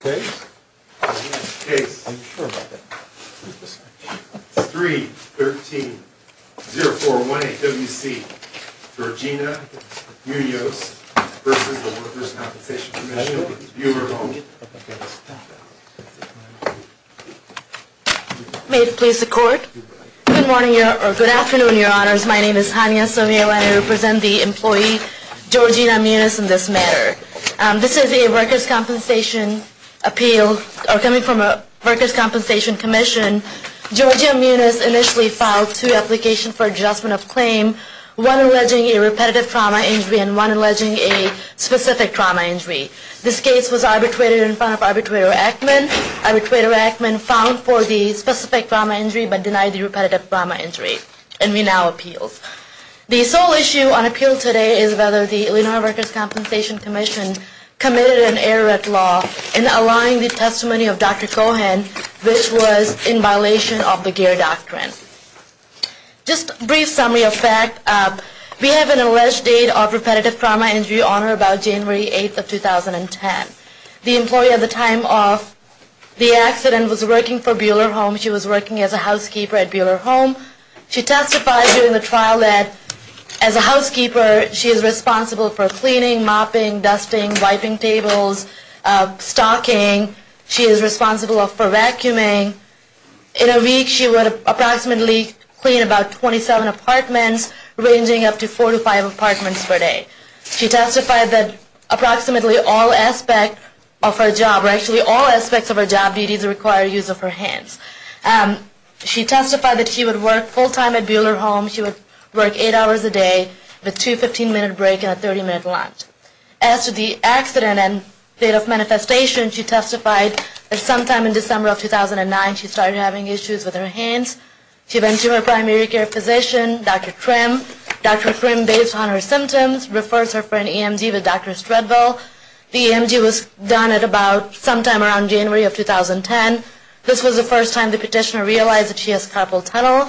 Case 3-13-0418-WC, Georgina Munoz v. Workers' Compensation Commission, Buhler Home. May it please the Court. Good morning, or good afternoon, Your Honors. My name is Hania Somio and I represent the employee Georgina Munoz in this matter. This is a workers' compensation appeal coming from a workers' compensation commission. Georgina Munoz initially filed two applications for adjustment of claim, one alleging a repetitive trauma injury and one alleging a specific trauma injury. This case was arbitrated in front of Arbitrator Ackman. Arbitrator Ackman found for the specific trauma injury but denied the repetitive trauma injury. The sole issue on appeal today is whether the Illinois Workers' Compensation Commission committed an error at law in allowing the testimony of Dr. Cohen, which was in violation of the GEER doctrine. Just a brief summary of facts. We have an alleged date of repetitive trauma injury on her about January 8, 2010. The employee at the time of the accident was working for Buhler Home. She was working as a housekeeper at Buhler Home. She testified during the trial that as a housekeeper, she is responsible for cleaning, mopping, dusting, wiping tables, stocking. She is responsible for vacuuming. In a week, she would approximately clean about 27 apartments, ranging up to four to five apartments per day. She testified that approximately all aspects of her job, or actually all aspects of her job duties require use of her hands. She testified that she would work full-time at Buhler Home. She would work eight hours a day with two 15-minute breaks and a 30-minute lunch. As to the accident and date of manifestation, she testified that sometime in December of 2009, she started having issues with her hands. She went to her primary care physician, Dr. Krim. Dr. Krim, based on her symptoms, refers her friend EMG to Dr. Stradville. The EMG was done at about sometime around January of 2010. This was the first time the petitioner realized that she has carpal tunnel.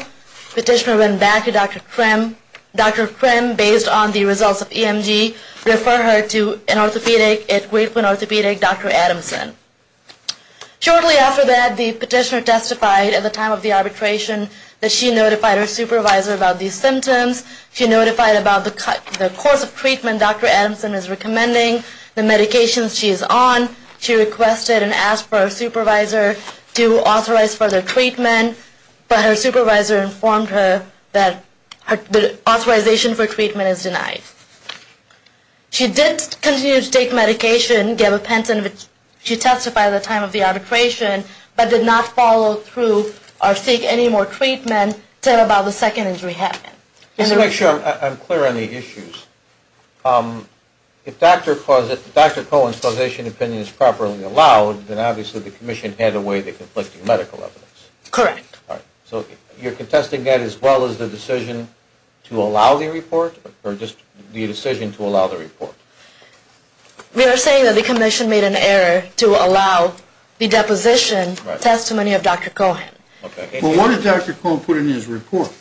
The petitioner went back to Dr. Krim. Dr. Krim, based on the results of EMG, referred her to an orthopedic at Grapevine Orthopedic, Dr. Adamson. Shortly after that, the petitioner testified at the time of the arbitration that she notified her supervisor about these symptoms. She notified about the course of treatment Dr. Adamson is recommending, the medications she is on. She requested and asked for her supervisor to authorize further treatment, but her supervisor informed her that the authorization for treatment is denied. She did continue to take medication, gave a pension. She testified at the time of the arbitration, but did not follow through or seek any more treatment until about the second injury happened. Just to make sure I'm clear on the issues, if Dr. Cohen's causation opinion is properly allowed, then obviously the commission handed away the conflicting medical evidence. Correct. So you're contesting that as well as the decision to allow the report, or just the decision to allow the report? We are saying that the commission made an error to allow the deposition testimony of Dr. Cohen. Well, what did Dr. Cohen put in his report?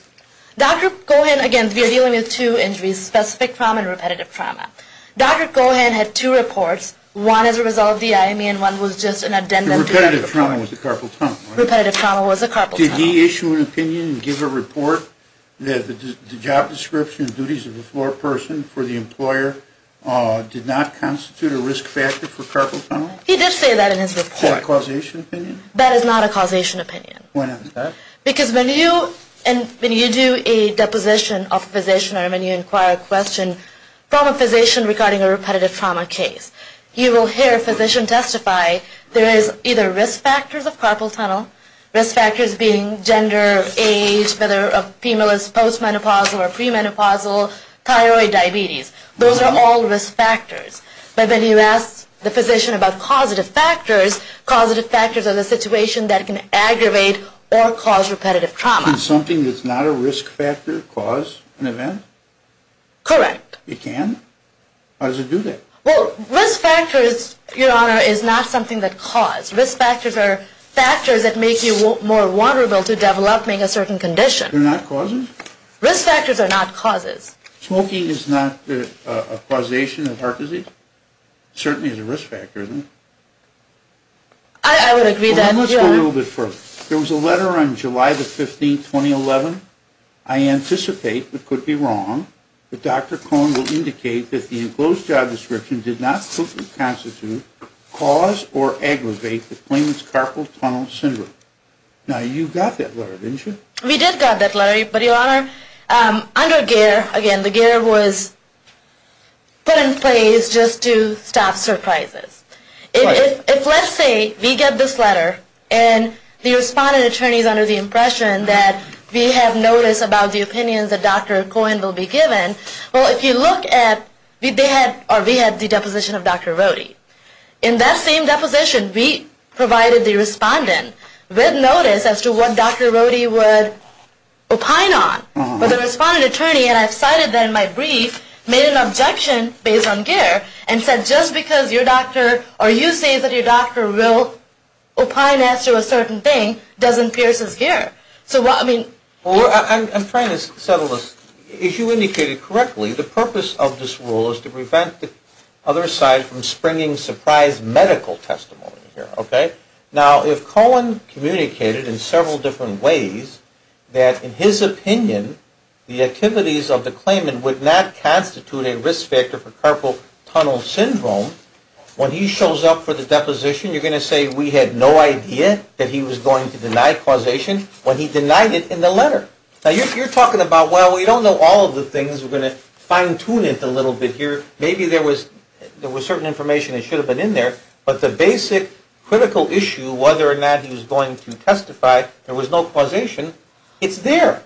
Dr. Cohen, again, we are dealing with two injuries, specific trauma and repetitive trauma. Dr. Cohen had two reports, one as a result of the IME and one was just an addendum to the report. The repetitive trauma was the carpal tunnel, right? The repetitive trauma was the carpal tunnel. Did he issue an opinion and give a report that the job description and duties of the floor person for the employer did not constitute a risk factor for carpal tunnel? He did say that in his report. Is that a causation opinion? That is not a causation opinion. Why not? Because when you do a deposition of a physician or when you inquire a question from a physician regarding a repetitive trauma case, you will hear a physician testify there is either risk factors of carpal tunnel, risk factors being gender, age, whether a female is post-menopausal or pre-menopausal, thyroid, diabetes. Those are all risk factors. But when you ask the physician about causative factors, causative factors are the situation that can aggravate or cause repetitive trauma. Can something that's not a risk factor cause an event? Correct. It can? How does it do that? Well, risk factors, Your Honor, is not something that cause. Risk factors are factors that make you more vulnerable to developing a certain condition. They're not causes? Risk factors are not causes. Smoking is not a causation of heart disease? It certainly is a risk factor. I would agree then. Let's go a little bit further. There was a letter on July 15, 2011. I anticipate, but could be wrong, that Dr. Cohn will indicate that the enclosed job description did not completely constitute, cause, or aggravate the claimant's carpal tunnel syndrome. Now, you got that letter, didn't you? We did get that letter, but, Your Honor, under GEER, again, the GEER was put in place just to stop surprises. If, let's say, we get this letter, and the respondent attorney is under the impression that we have notice about the opinions that Dr. Cohn will be given, well, if you look at, they had, or we had the deposition of Dr. Rohde. In that same deposition, we provided the respondent with notice as to what Dr. Rohde would opine on. But the respondent attorney, and I've cited that in my brief, made an objection based on GEER and said, just because your doctor, or you say that your doctor will opine as to a certain thing, doesn't pierce his GEER. So, I mean, Well, I'm trying to settle this. If you indicated correctly, the purpose of this rule is to prevent the other side from springing surprise medical testimony here, okay? Now, if Cohn communicated in several different ways that, in his opinion, the activities of the claimant would not constitute a risk factor for carpal tunnel syndrome, when he shows up for the deposition, you're going to say we had no idea that he was going to deny causation when he denied it in the letter. Now, you're talking about, well, we don't know all of the things. We're going to fine-tune it a little bit here. Maybe there was certain information that should have been in there. But the basic critical issue, whether or not he was going to testify, there was no causation. It's there.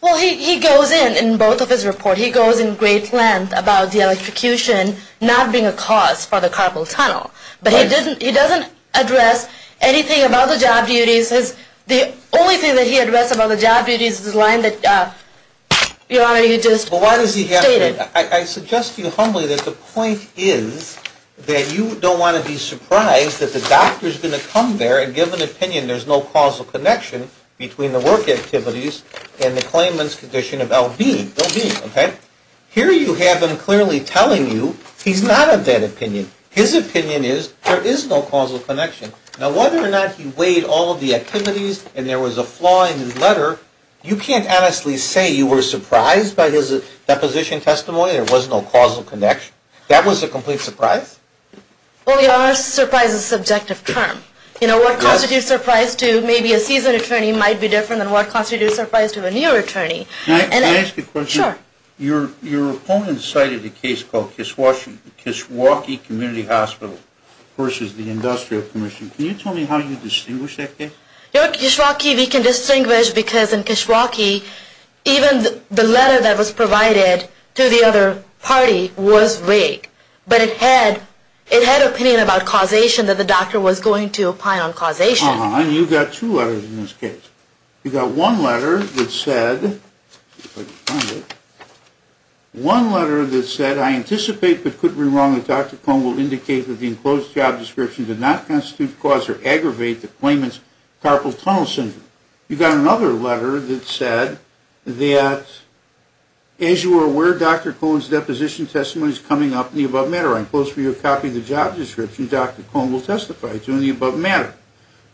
Well, he goes in, in both of his reports. He goes in great length about the electrocution not being a cause for the carpal tunnel. But he doesn't address anything about the job duties. The only thing that he addressed about the job duties is the line that your Honor, you just stated. Well, why does he have to? I suggest to you humbly that the point is that you don't want to be surprised that the doctor is going to come there and give an opinion there's no causal connection between the work activities and the claimant's condition of LB. LB, okay? Here you have him clearly telling you he's not of that opinion. His opinion is there is no causal connection. Now, whether or not he weighed all of the activities and there was a flaw in his letter, you can't honestly say you were surprised by his deposition testimony, there was no causal connection. That was a complete surprise? Well, your Honor, surprise is a subjective term. You know, what constitutes surprise to maybe a seasoned attorney might be different than what constitutes surprise to a new attorney. Can I ask you a question? Sure. Your opponent cited a case called Kishwaukee Community Hospital versus the Industrial Commission. Can you tell me how you distinguish that case? At Kishwaukee we can distinguish because in Kishwaukee even the letter that was provided to the other party was vague. But it had opinion about causation that the doctor was going to opine on causation. Uh-huh. And you've got two letters in this case. You've got one letter that said, let's see if I can find it. One letter that said, I anticipate but couldn't be wrong that Dr. Cohn will indicate that the enclosed job description did not constitute cause or aggravate the claimant's carpal tunnel syndrome. You've got another letter that said that, as you are aware, Dr. Cohn's deposition testimony is coming up in the above matter. I impose for you a copy of the job description Dr. Cohn will testify to in the above matter.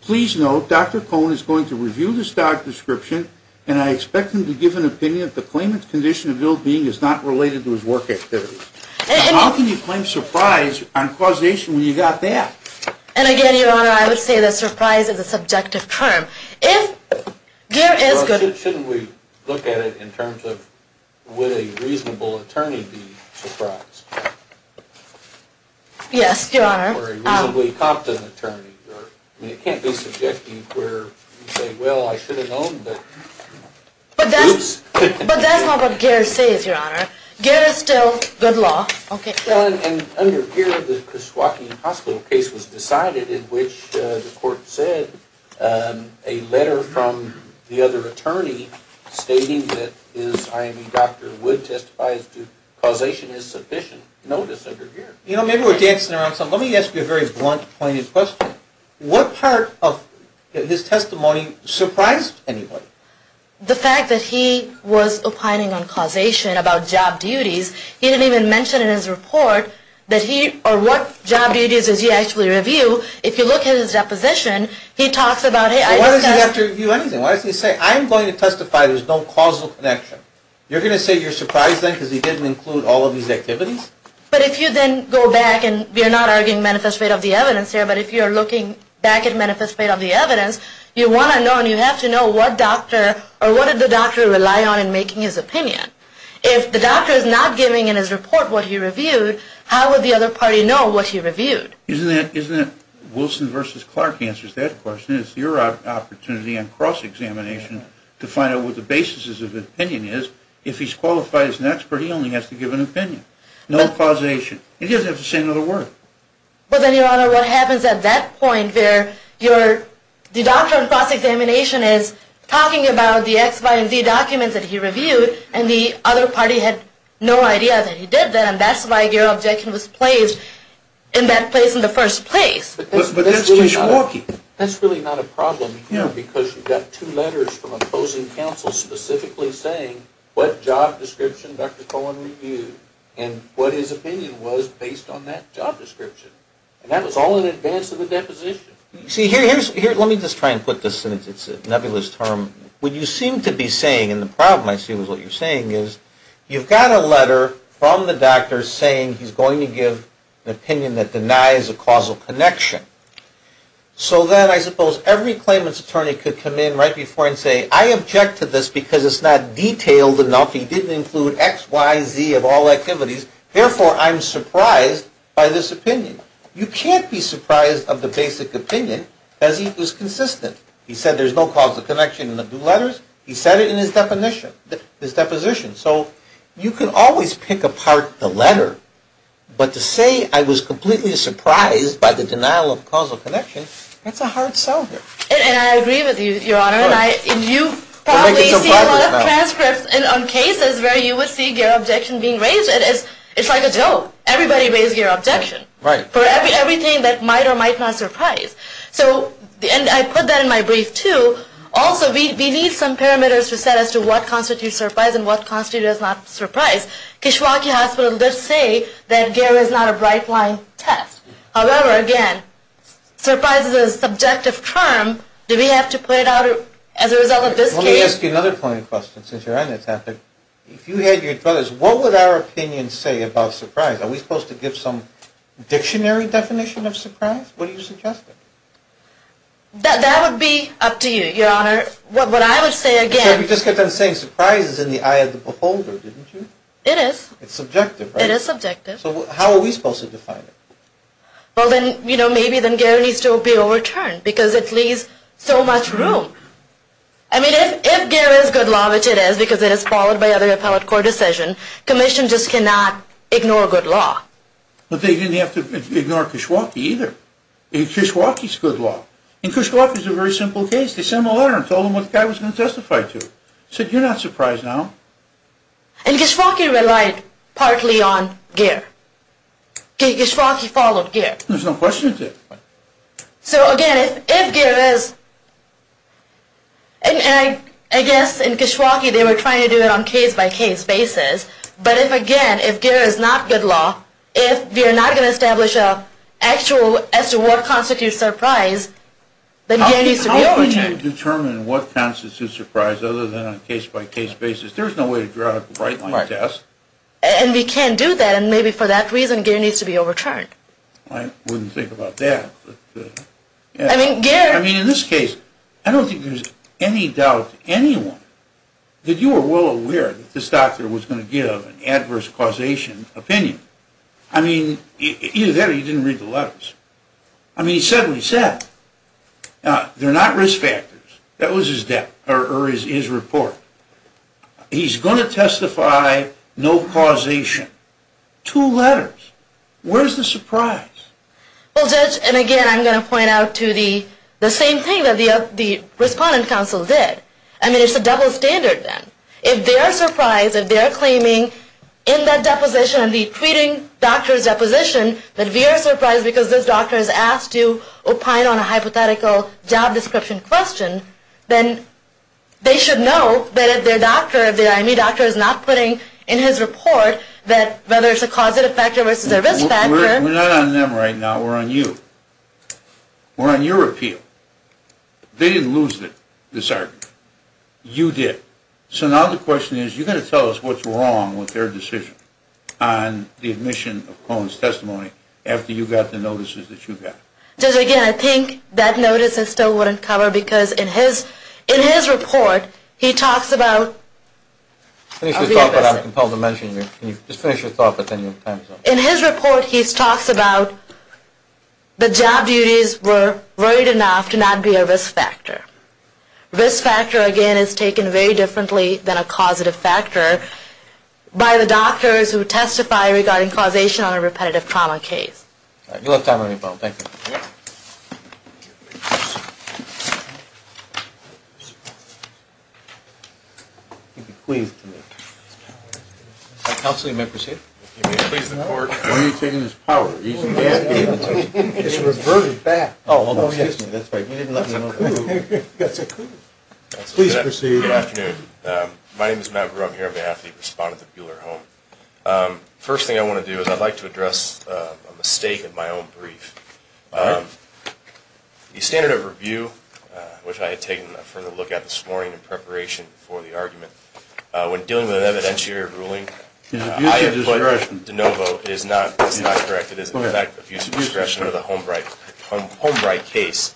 Please note, Dr. Cohn is going to review this doc description and I expect him to give an opinion that the claimant's condition of ill-being is not related to his work activity. How can you claim surprise on causation when you've got that? And again, Your Honor, I would say that surprise is a subjective term. If there is good... Well, shouldn't we look at it in terms of would a reasonable attorney be surprised? Yes, Your Honor. Or a reasonably competent attorney. I mean, it can't be subjective where you say, well, I should have known, but... But that's not what Garrett says, Your Honor. Garrett is still good law. Okay. And under here, the Kishwaukee Hospital case was decided in which the court said a letter from the other attorney stating that his IME doctor would testify as to causation is sufficient. Notice under here. You know, maybe we're dancing around something. Let me ask you a very blunt, pointed question. What part of his testimony surprised anybody? The fact that he was opining on causation about job duties. He didn't even mention in his report that he... Or what job duties did he actually review. If you look at his deposition, he talks about... Why does he have to review anything? Why doesn't he say, I'm going to testify, there's no causal connection. You're going to say you're surprised then because he didn't include all of these activities? But if you then go back and... We're not arguing manifest rate of the evidence here, but if you're looking back at manifest rate of the evidence, you want to know and you have to know what doctor... Or what did the doctor rely on in making his opinion. If the doctor is not giving in his report what he reviewed, how would the other party know what he reviewed? Isn't it Wilson versus Clark answers that question? It's your opportunity on cross-examination to find out what the basis of his opinion is. If he's qualified as an expert, he only has to give an opinion. No causation. He doesn't have to say another word. But then, your honor, what happens at that point where your... The doctor on cross-examination is talking about the X, Y, and Z documents that he reviewed and the other party had no idea that he did them. That's why your objection was placed in that place in the first place. But that's really not a problem here because you've got two letters from opposing counsel specifically saying what job description Dr. Cohen reviewed. And what his opinion was based on that job description. And that was all in advance of the deposition. See, here, let me just try and put this in. It's a nebulous term. What you seem to be saying, and the problem I see with what you're saying is, you've got a letter from the doctor saying he's going to give an opinion that denies a causal connection. So then I suppose every claimant's attorney could come in right before and say, I object to this because it's not detailed enough. He didn't include X, Y, and Z of all activities. Therefore, I'm surprised by this opinion. You can't be surprised of the basic opinion as he was consistent. He said there's no causal connection in the two letters. He said it in his deposition. So you can always pick apart the letter. But to say I was completely surprised by the denial of causal connection, that's a hard sell here. And I agree with you, Your Honor. And you probably see a lot of transcripts on cases where you would see Gehrer objection being raised. It's like a joke. Everybody raises Gehrer objection for everything that might or might not surprise. And I put that in my brief, too. Also, we need some parameters to set as to what constitutes surprise and what constitutes not surprise. Kishwaukee Hospital does say that Gehrer is not a bright line test. However, again, surprise is a subjective term. Do we have to put it out as a result of this case? Let me ask you another point of question since you're on this topic. If you had your druthers, what would our opinion say about surprise? Are we supposed to give some dictionary definition of surprise? What do you suggest? That would be up to you, Your Honor. What I would say again. You just kept on saying surprise is in the eye of the beholder, didn't you? It is. It's subjective, right? It is subjective. So how are we supposed to define it? Well, then, you know, maybe then Gehrer needs to be overturned because it leaves so much room. I mean, if Gehrer is good law, which it is because it is followed by other appellate court decision, commission just cannot ignore good law. But they didn't have to ignore Kishwaukee either. Kishwaukee is good law. And Kishwaukee is a very simple case. They sent a letter and told them what the guy was going to testify to. Said, you're not surprised now. And Kishwaukee relied partly on Gehrer. Kishwaukee followed Gehrer. There's no question of it. So again, if Gehrer is... And I guess in Kishwaukee they were trying to do it on case-by-case basis. But if, again, if Gehrer is not good law, if we are not going to establish an actual as to what constitutes surprise, then Gehrer needs to be overturned. You can't determine what constitutes surprise other than on a case-by-case basis. There's no way to draw a bright line test. And we can't do that. And maybe for that reason, Gehrer needs to be overturned. I wouldn't think about that. I mean, in this case, I don't think there's any doubt to anyone that you were well aware that this doctor was going to give an adverse causation opinion. I mean, either that or you didn't read the letters. I mean, he said what he said. They're not risk factors. That was his report. He's going to testify no causation. Two letters. Where's the surprise? Well, Judge, and again, I'm going to point out to the same thing that the Respondent Council did. I mean, it's a double standard then. If they are surprised, if they are claiming in that deposition, the treating doctor's deposition, that we are surprised because this doctor has asked to opine on a hypothetical job description question, then they should know that if their doctor, the IME doctor is not putting in his report that whether it's a causative factor versus a risk factor. We're not on them right now. We're on you. We're on your appeal. They didn't lose this argument. You did. So now the question is you've got to tell us what's wrong with their decision on the admission of Cohen's testimony after you got the notices that you got. Judge, again, I think that notice still wouldn't cover because in his report, he talks about Finish your thought, but I'm compelled to mention it. Just finish your thought, but then your time is up. In his report, he talks about the job duties were great enough to not be a risk factor. Risk factor, again, is taken very differently than a causative factor by the doctors who testify regarding causation on a repetitive trauma case. You'll have time on your phone. Thank you. Counselor, you may proceed. When are you taking this power? It's reverted back. That's a coup. Please proceed. Good afternoon. My name is Matt Grum here on behalf of the respondent of Buehler Home. First thing I want to do is I'd like to address a mistake in my own brief. The standard of review, which I had taken a further look at this morning in preparation for the argument, when dealing with an evidentiary ruling, I have put that DeNovo is not correct. It is, in fact, an abuse of discretion under the Holmbright case.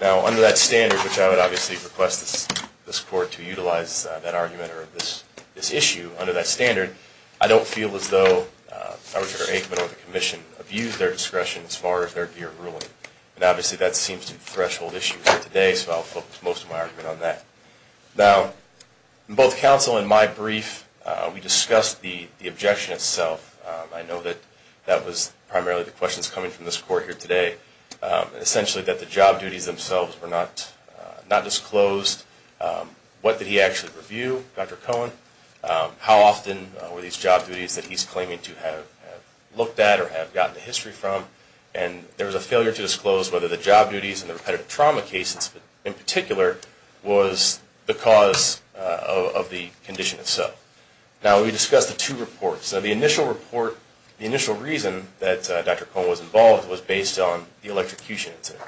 Now, under that standard, which I would obviously request this court to utilize that argument or this issue under that standard, I don't feel as though Dr. Aikman or the commission abused their discretion as far as their deer ruling, and obviously that seems to be a threshold issue for today, so I'll focus most of my argument on that. Now, both counsel in my brief, we discussed the objection itself. I know that that was primarily the questions coming from this court here today, essentially that the job duties themselves were not disclosed. What did he actually review, Dr. Cohen? How often were these job duties that he's claiming to have looked at or have gotten a history from? And there was a failure to disclose whether the job duties in the repetitive trauma cases in particular was the cause of the condition itself. Now, we discussed the two reports. Now, the initial report, the initial reason that Dr. Cohen was involved was based on the electrocution incident.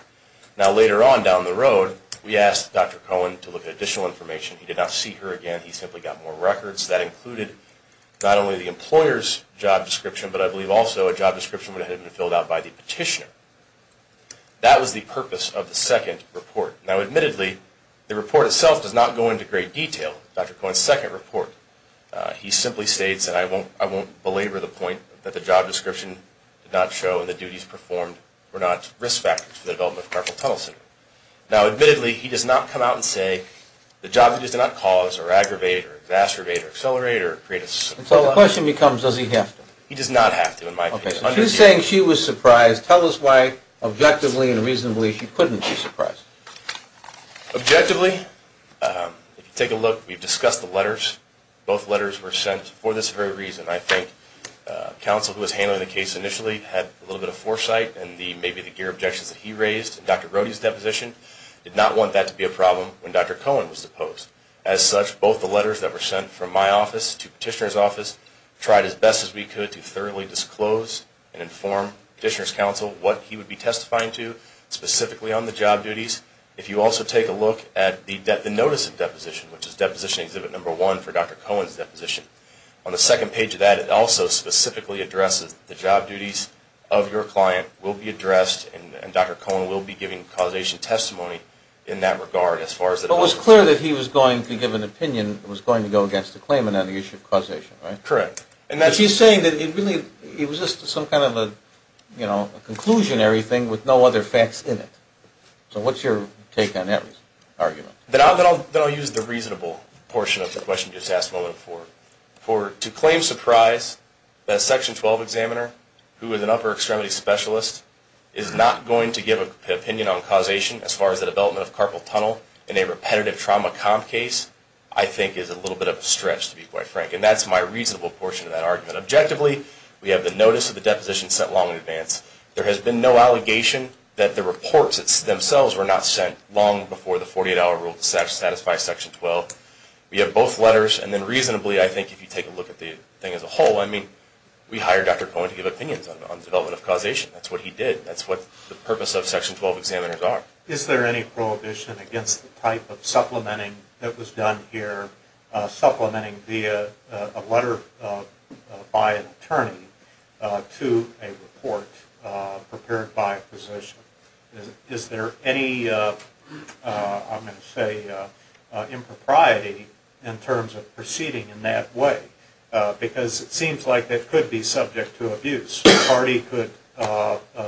Now, later on down the road, we asked Dr. Cohen to look at additional information. He did not see her again. He simply got more records. That included not only the employer's job description, but I believe also a job description that had been filled out by the petitioner. That was the purpose of the second report. Now, admittedly, the report itself does not go into great detail, Dr. Cohen's second report. He simply states, and I won't belabor the point, that the job description did not show and the duties performed were not risk factors for the development of carpal tunnel syndrome. Now, admittedly, he does not come out and say the job duties did not cause or aggravate or exacerbate or accelerate or create a situation. So the question becomes, does he have to? He does not have to, in my opinion. Okay. If he's saying she was surprised, tell us why, objectively and reasonably, she couldn't be surprised. Objectively, if you take a look, we've discussed the letters. Both letters were sent for this very reason. Dr. Wright and maybe the gear objections that he raised in Dr. Rohde's deposition did not want that to be a problem when Dr. Cohen was deposed. As such, both the letters that were sent from my office to the petitioner's office tried as best as we could to thoroughly disclose and inform the petitioner's counsel what he would be testifying to, specifically on the job duties. If you also take a look at the notice of deposition, which is deposition exhibit number one for Dr. Cohen's deposition, on the second page of that, it also specifically addresses the job duties of your client will be addressed and Dr. Cohen will be giving causation testimony in that regard as far as that goes. But it was clear that he was going to give an opinion that was going to go against the claimant on the issue of causation, right? Correct. But he's saying that it really was just some kind of a conclusionary thing with no other facts in it. So what's your take on that argument? Then I'll use the reasonable portion of the question you just asked a moment before. To claim surprise that a Section 12 examiner who is an upper extremity specialist is not going to give an opinion on causation as far as the development of carpal tunnel in a repetitive trauma comp case, I think is a little bit of a stretch to be quite frank. And that's my reasonable portion of that argument. Objectively, we have the notice of the deposition sent long in advance. There has been no allegation that the reports themselves were not sent long before the 48-hour rule to satisfy Section 12. We have both letters and then reasonably I think if you take a look at the thing as a whole, I mean, we hired Dr. Cohen to give opinions on the development of causation. That's what he did. That's what the purpose of Section 12 examiners are. Is there any prohibition against the type of supplementing that was done here, supplementing via a letter by an attorney to a report prepared by a physician? Is there any, I'm going to say, impropriety in terms of proceeding in that way? Because it seems like it could be subject to abuse. The party could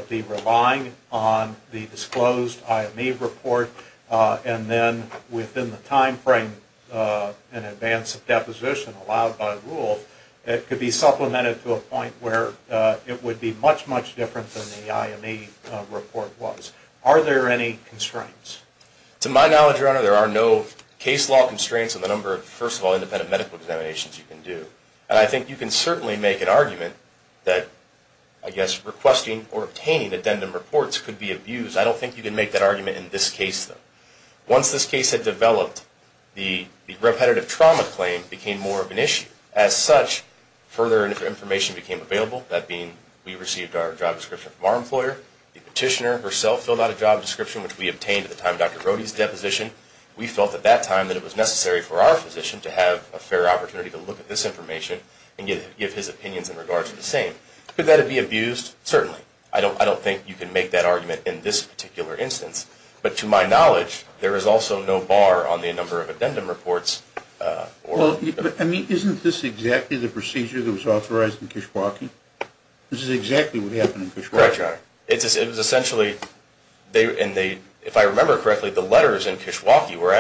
be relying on the disclosed IME report and then within the time frame in advance of deposition allowed by rule, it could be supplemented to a point where it would be much, much different than the IME report was. Are there any constraints? To my knowledge, Your Honor, there are no case law constraints on the number of, first of all, independent medical examinations you can do. And I think you can certainly make an argument that, I guess, requesting or obtaining addendum reports could be abused. I don't think you can make that argument in this case, though. Once this case had developed, the repetitive trauma claim became more of an issue. As such, further information became available, that being we received our job description from our employer. The petitioner herself filled out a job description, which we obtained at the time of Dr. Rohde's deposition. We felt at that time that it was necessary for our physician to have a fair opportunity to look at this information and give his opinions in regards to the same. Could that have been abused? Certainly. I don't think you can make that argument in this particular instance. But to my knowledge, there is also no bar on the number of addendum reports. Well, isn't this exactly the procedure that was authorized in Kishwaukee? This is exactly what happened in Kishwaukee. Correct, Your Honor. If I remember correctly, the letters in Kishwaukee were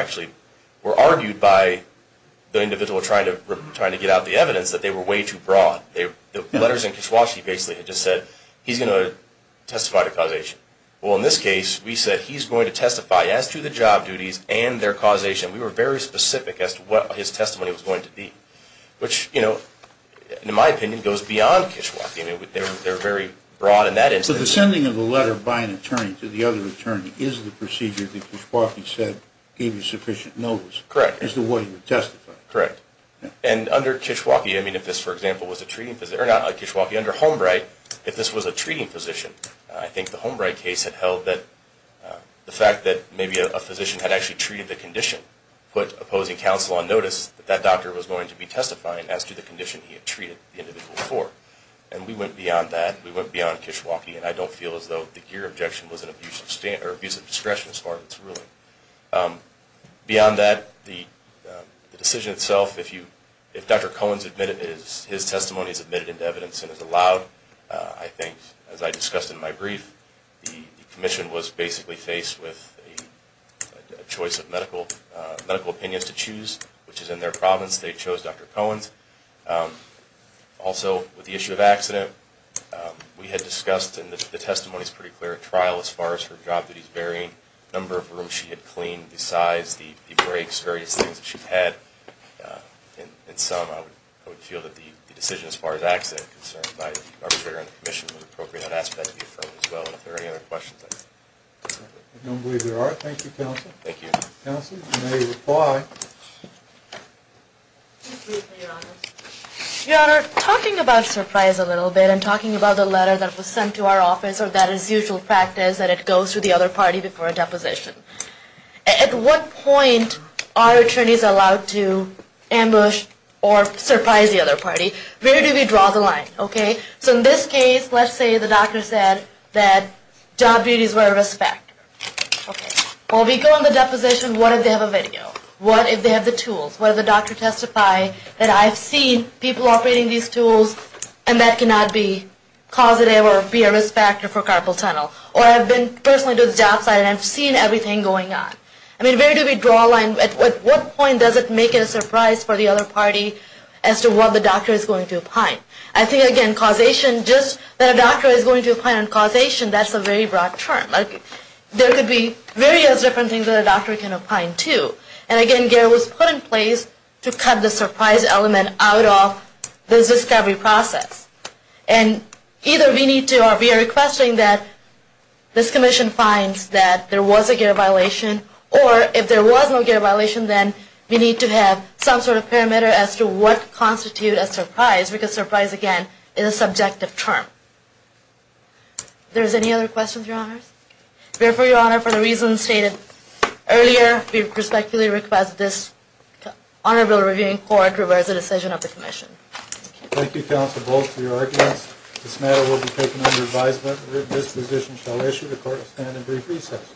argued by the individual trying to get out the evidence that they were way too broad. The letters in Kishwaukee basically just said, he's going to testify to causation. Well, in this case, we said he's going to testify as to the job duties and their causation. We were very specific as to what his testimony was going to be, which, in my opinion, goes beyond Kishwaukee. They're very broad in that instance. So the sending of a letter by an attorney to the other attorney is the procedure that Kishwaukee said gave you sufficient notice. Correct. Is the way you would testify. Correct. And under Kishwaukee, I mean, if this, for example, was a treating physician, or not Kishwaukee, under Holmbright, if this was a treating physician, I think the Holmbright case had held that the fact that maybe a physician had actually treated the condition put opposing counsel on notice that that doctor was going to be testifying as to the condition he had treated the individual for. And we went beyond that. We went beyond Kishwaukee. And I don't feel as though the Geer objection was an abuse of discretion as far as it's ruling. Beyond that, the decision itself, if Dr. Cohen's testimony is admitted into evidence and is allowed, I think, as I discussed in my brief, the commission was basically faced with a choice of medical opinions to choose, which is in their province. They chose Dr. Cohen's. Also, with the issue of accident, we had discussed, and the testimony is pretty clear, at trial as far as her job duties varying, the number of rooms she had cleaned, the size, the breaks, various things that she had. In sum, I would feel that the decision as far as accident is concerned by the arbitrator and the commission was appropriate and I'd ask that to be affirmed as well. And if there are any other questions. I don't believe there are. Thank you, counsel. Thank you. Counsel, you may reply. Your Honor, talking about surprise a little bit and talking about the letter that was sent to our office or that is usual practice that it goes to the other party before a deposition. At what point are attorneys allowed to ambush or surprise the other party? Where do we draw the line? Okay. So in this case, let's say the doctor said that job duties were a risk factor. Okay. Well, we go on the deposition, what if they have a video? What if they have the tools? What if the doctor testified that I've seen people operating these tools and that cannot be causative or be a risk factor for carpal tunnel? Or I've been personally to the job site and I've seen everything going on. I mean, where do we draw the line? At what point does it make it a surprise for the other party as to what the doctor is going to opine? I think, again, causation, just that a doctor is going to opine on causation, that's a very broad term. There could be various different things that a doctor can opine to. And, again, gear was put in place to cut the surprise element out of this discovery process. And either we need to or we are requesting that this commission finds that there was a gear violation or if there was no gear violation, then we need to have some sort of parameter as to what constitutes a surprise because surprise, again, is a subjective term. If there's any other questions, Your Honors. Therefore, Your Honor, for the reasons stated earlier, we respectfully request this Honorable Reviewing Court reverse the decision of the commission. Thank you, Counsel Bolt, for your arguments. This matter will be taken under advisement. This position shall issue the court a stand and brief recess.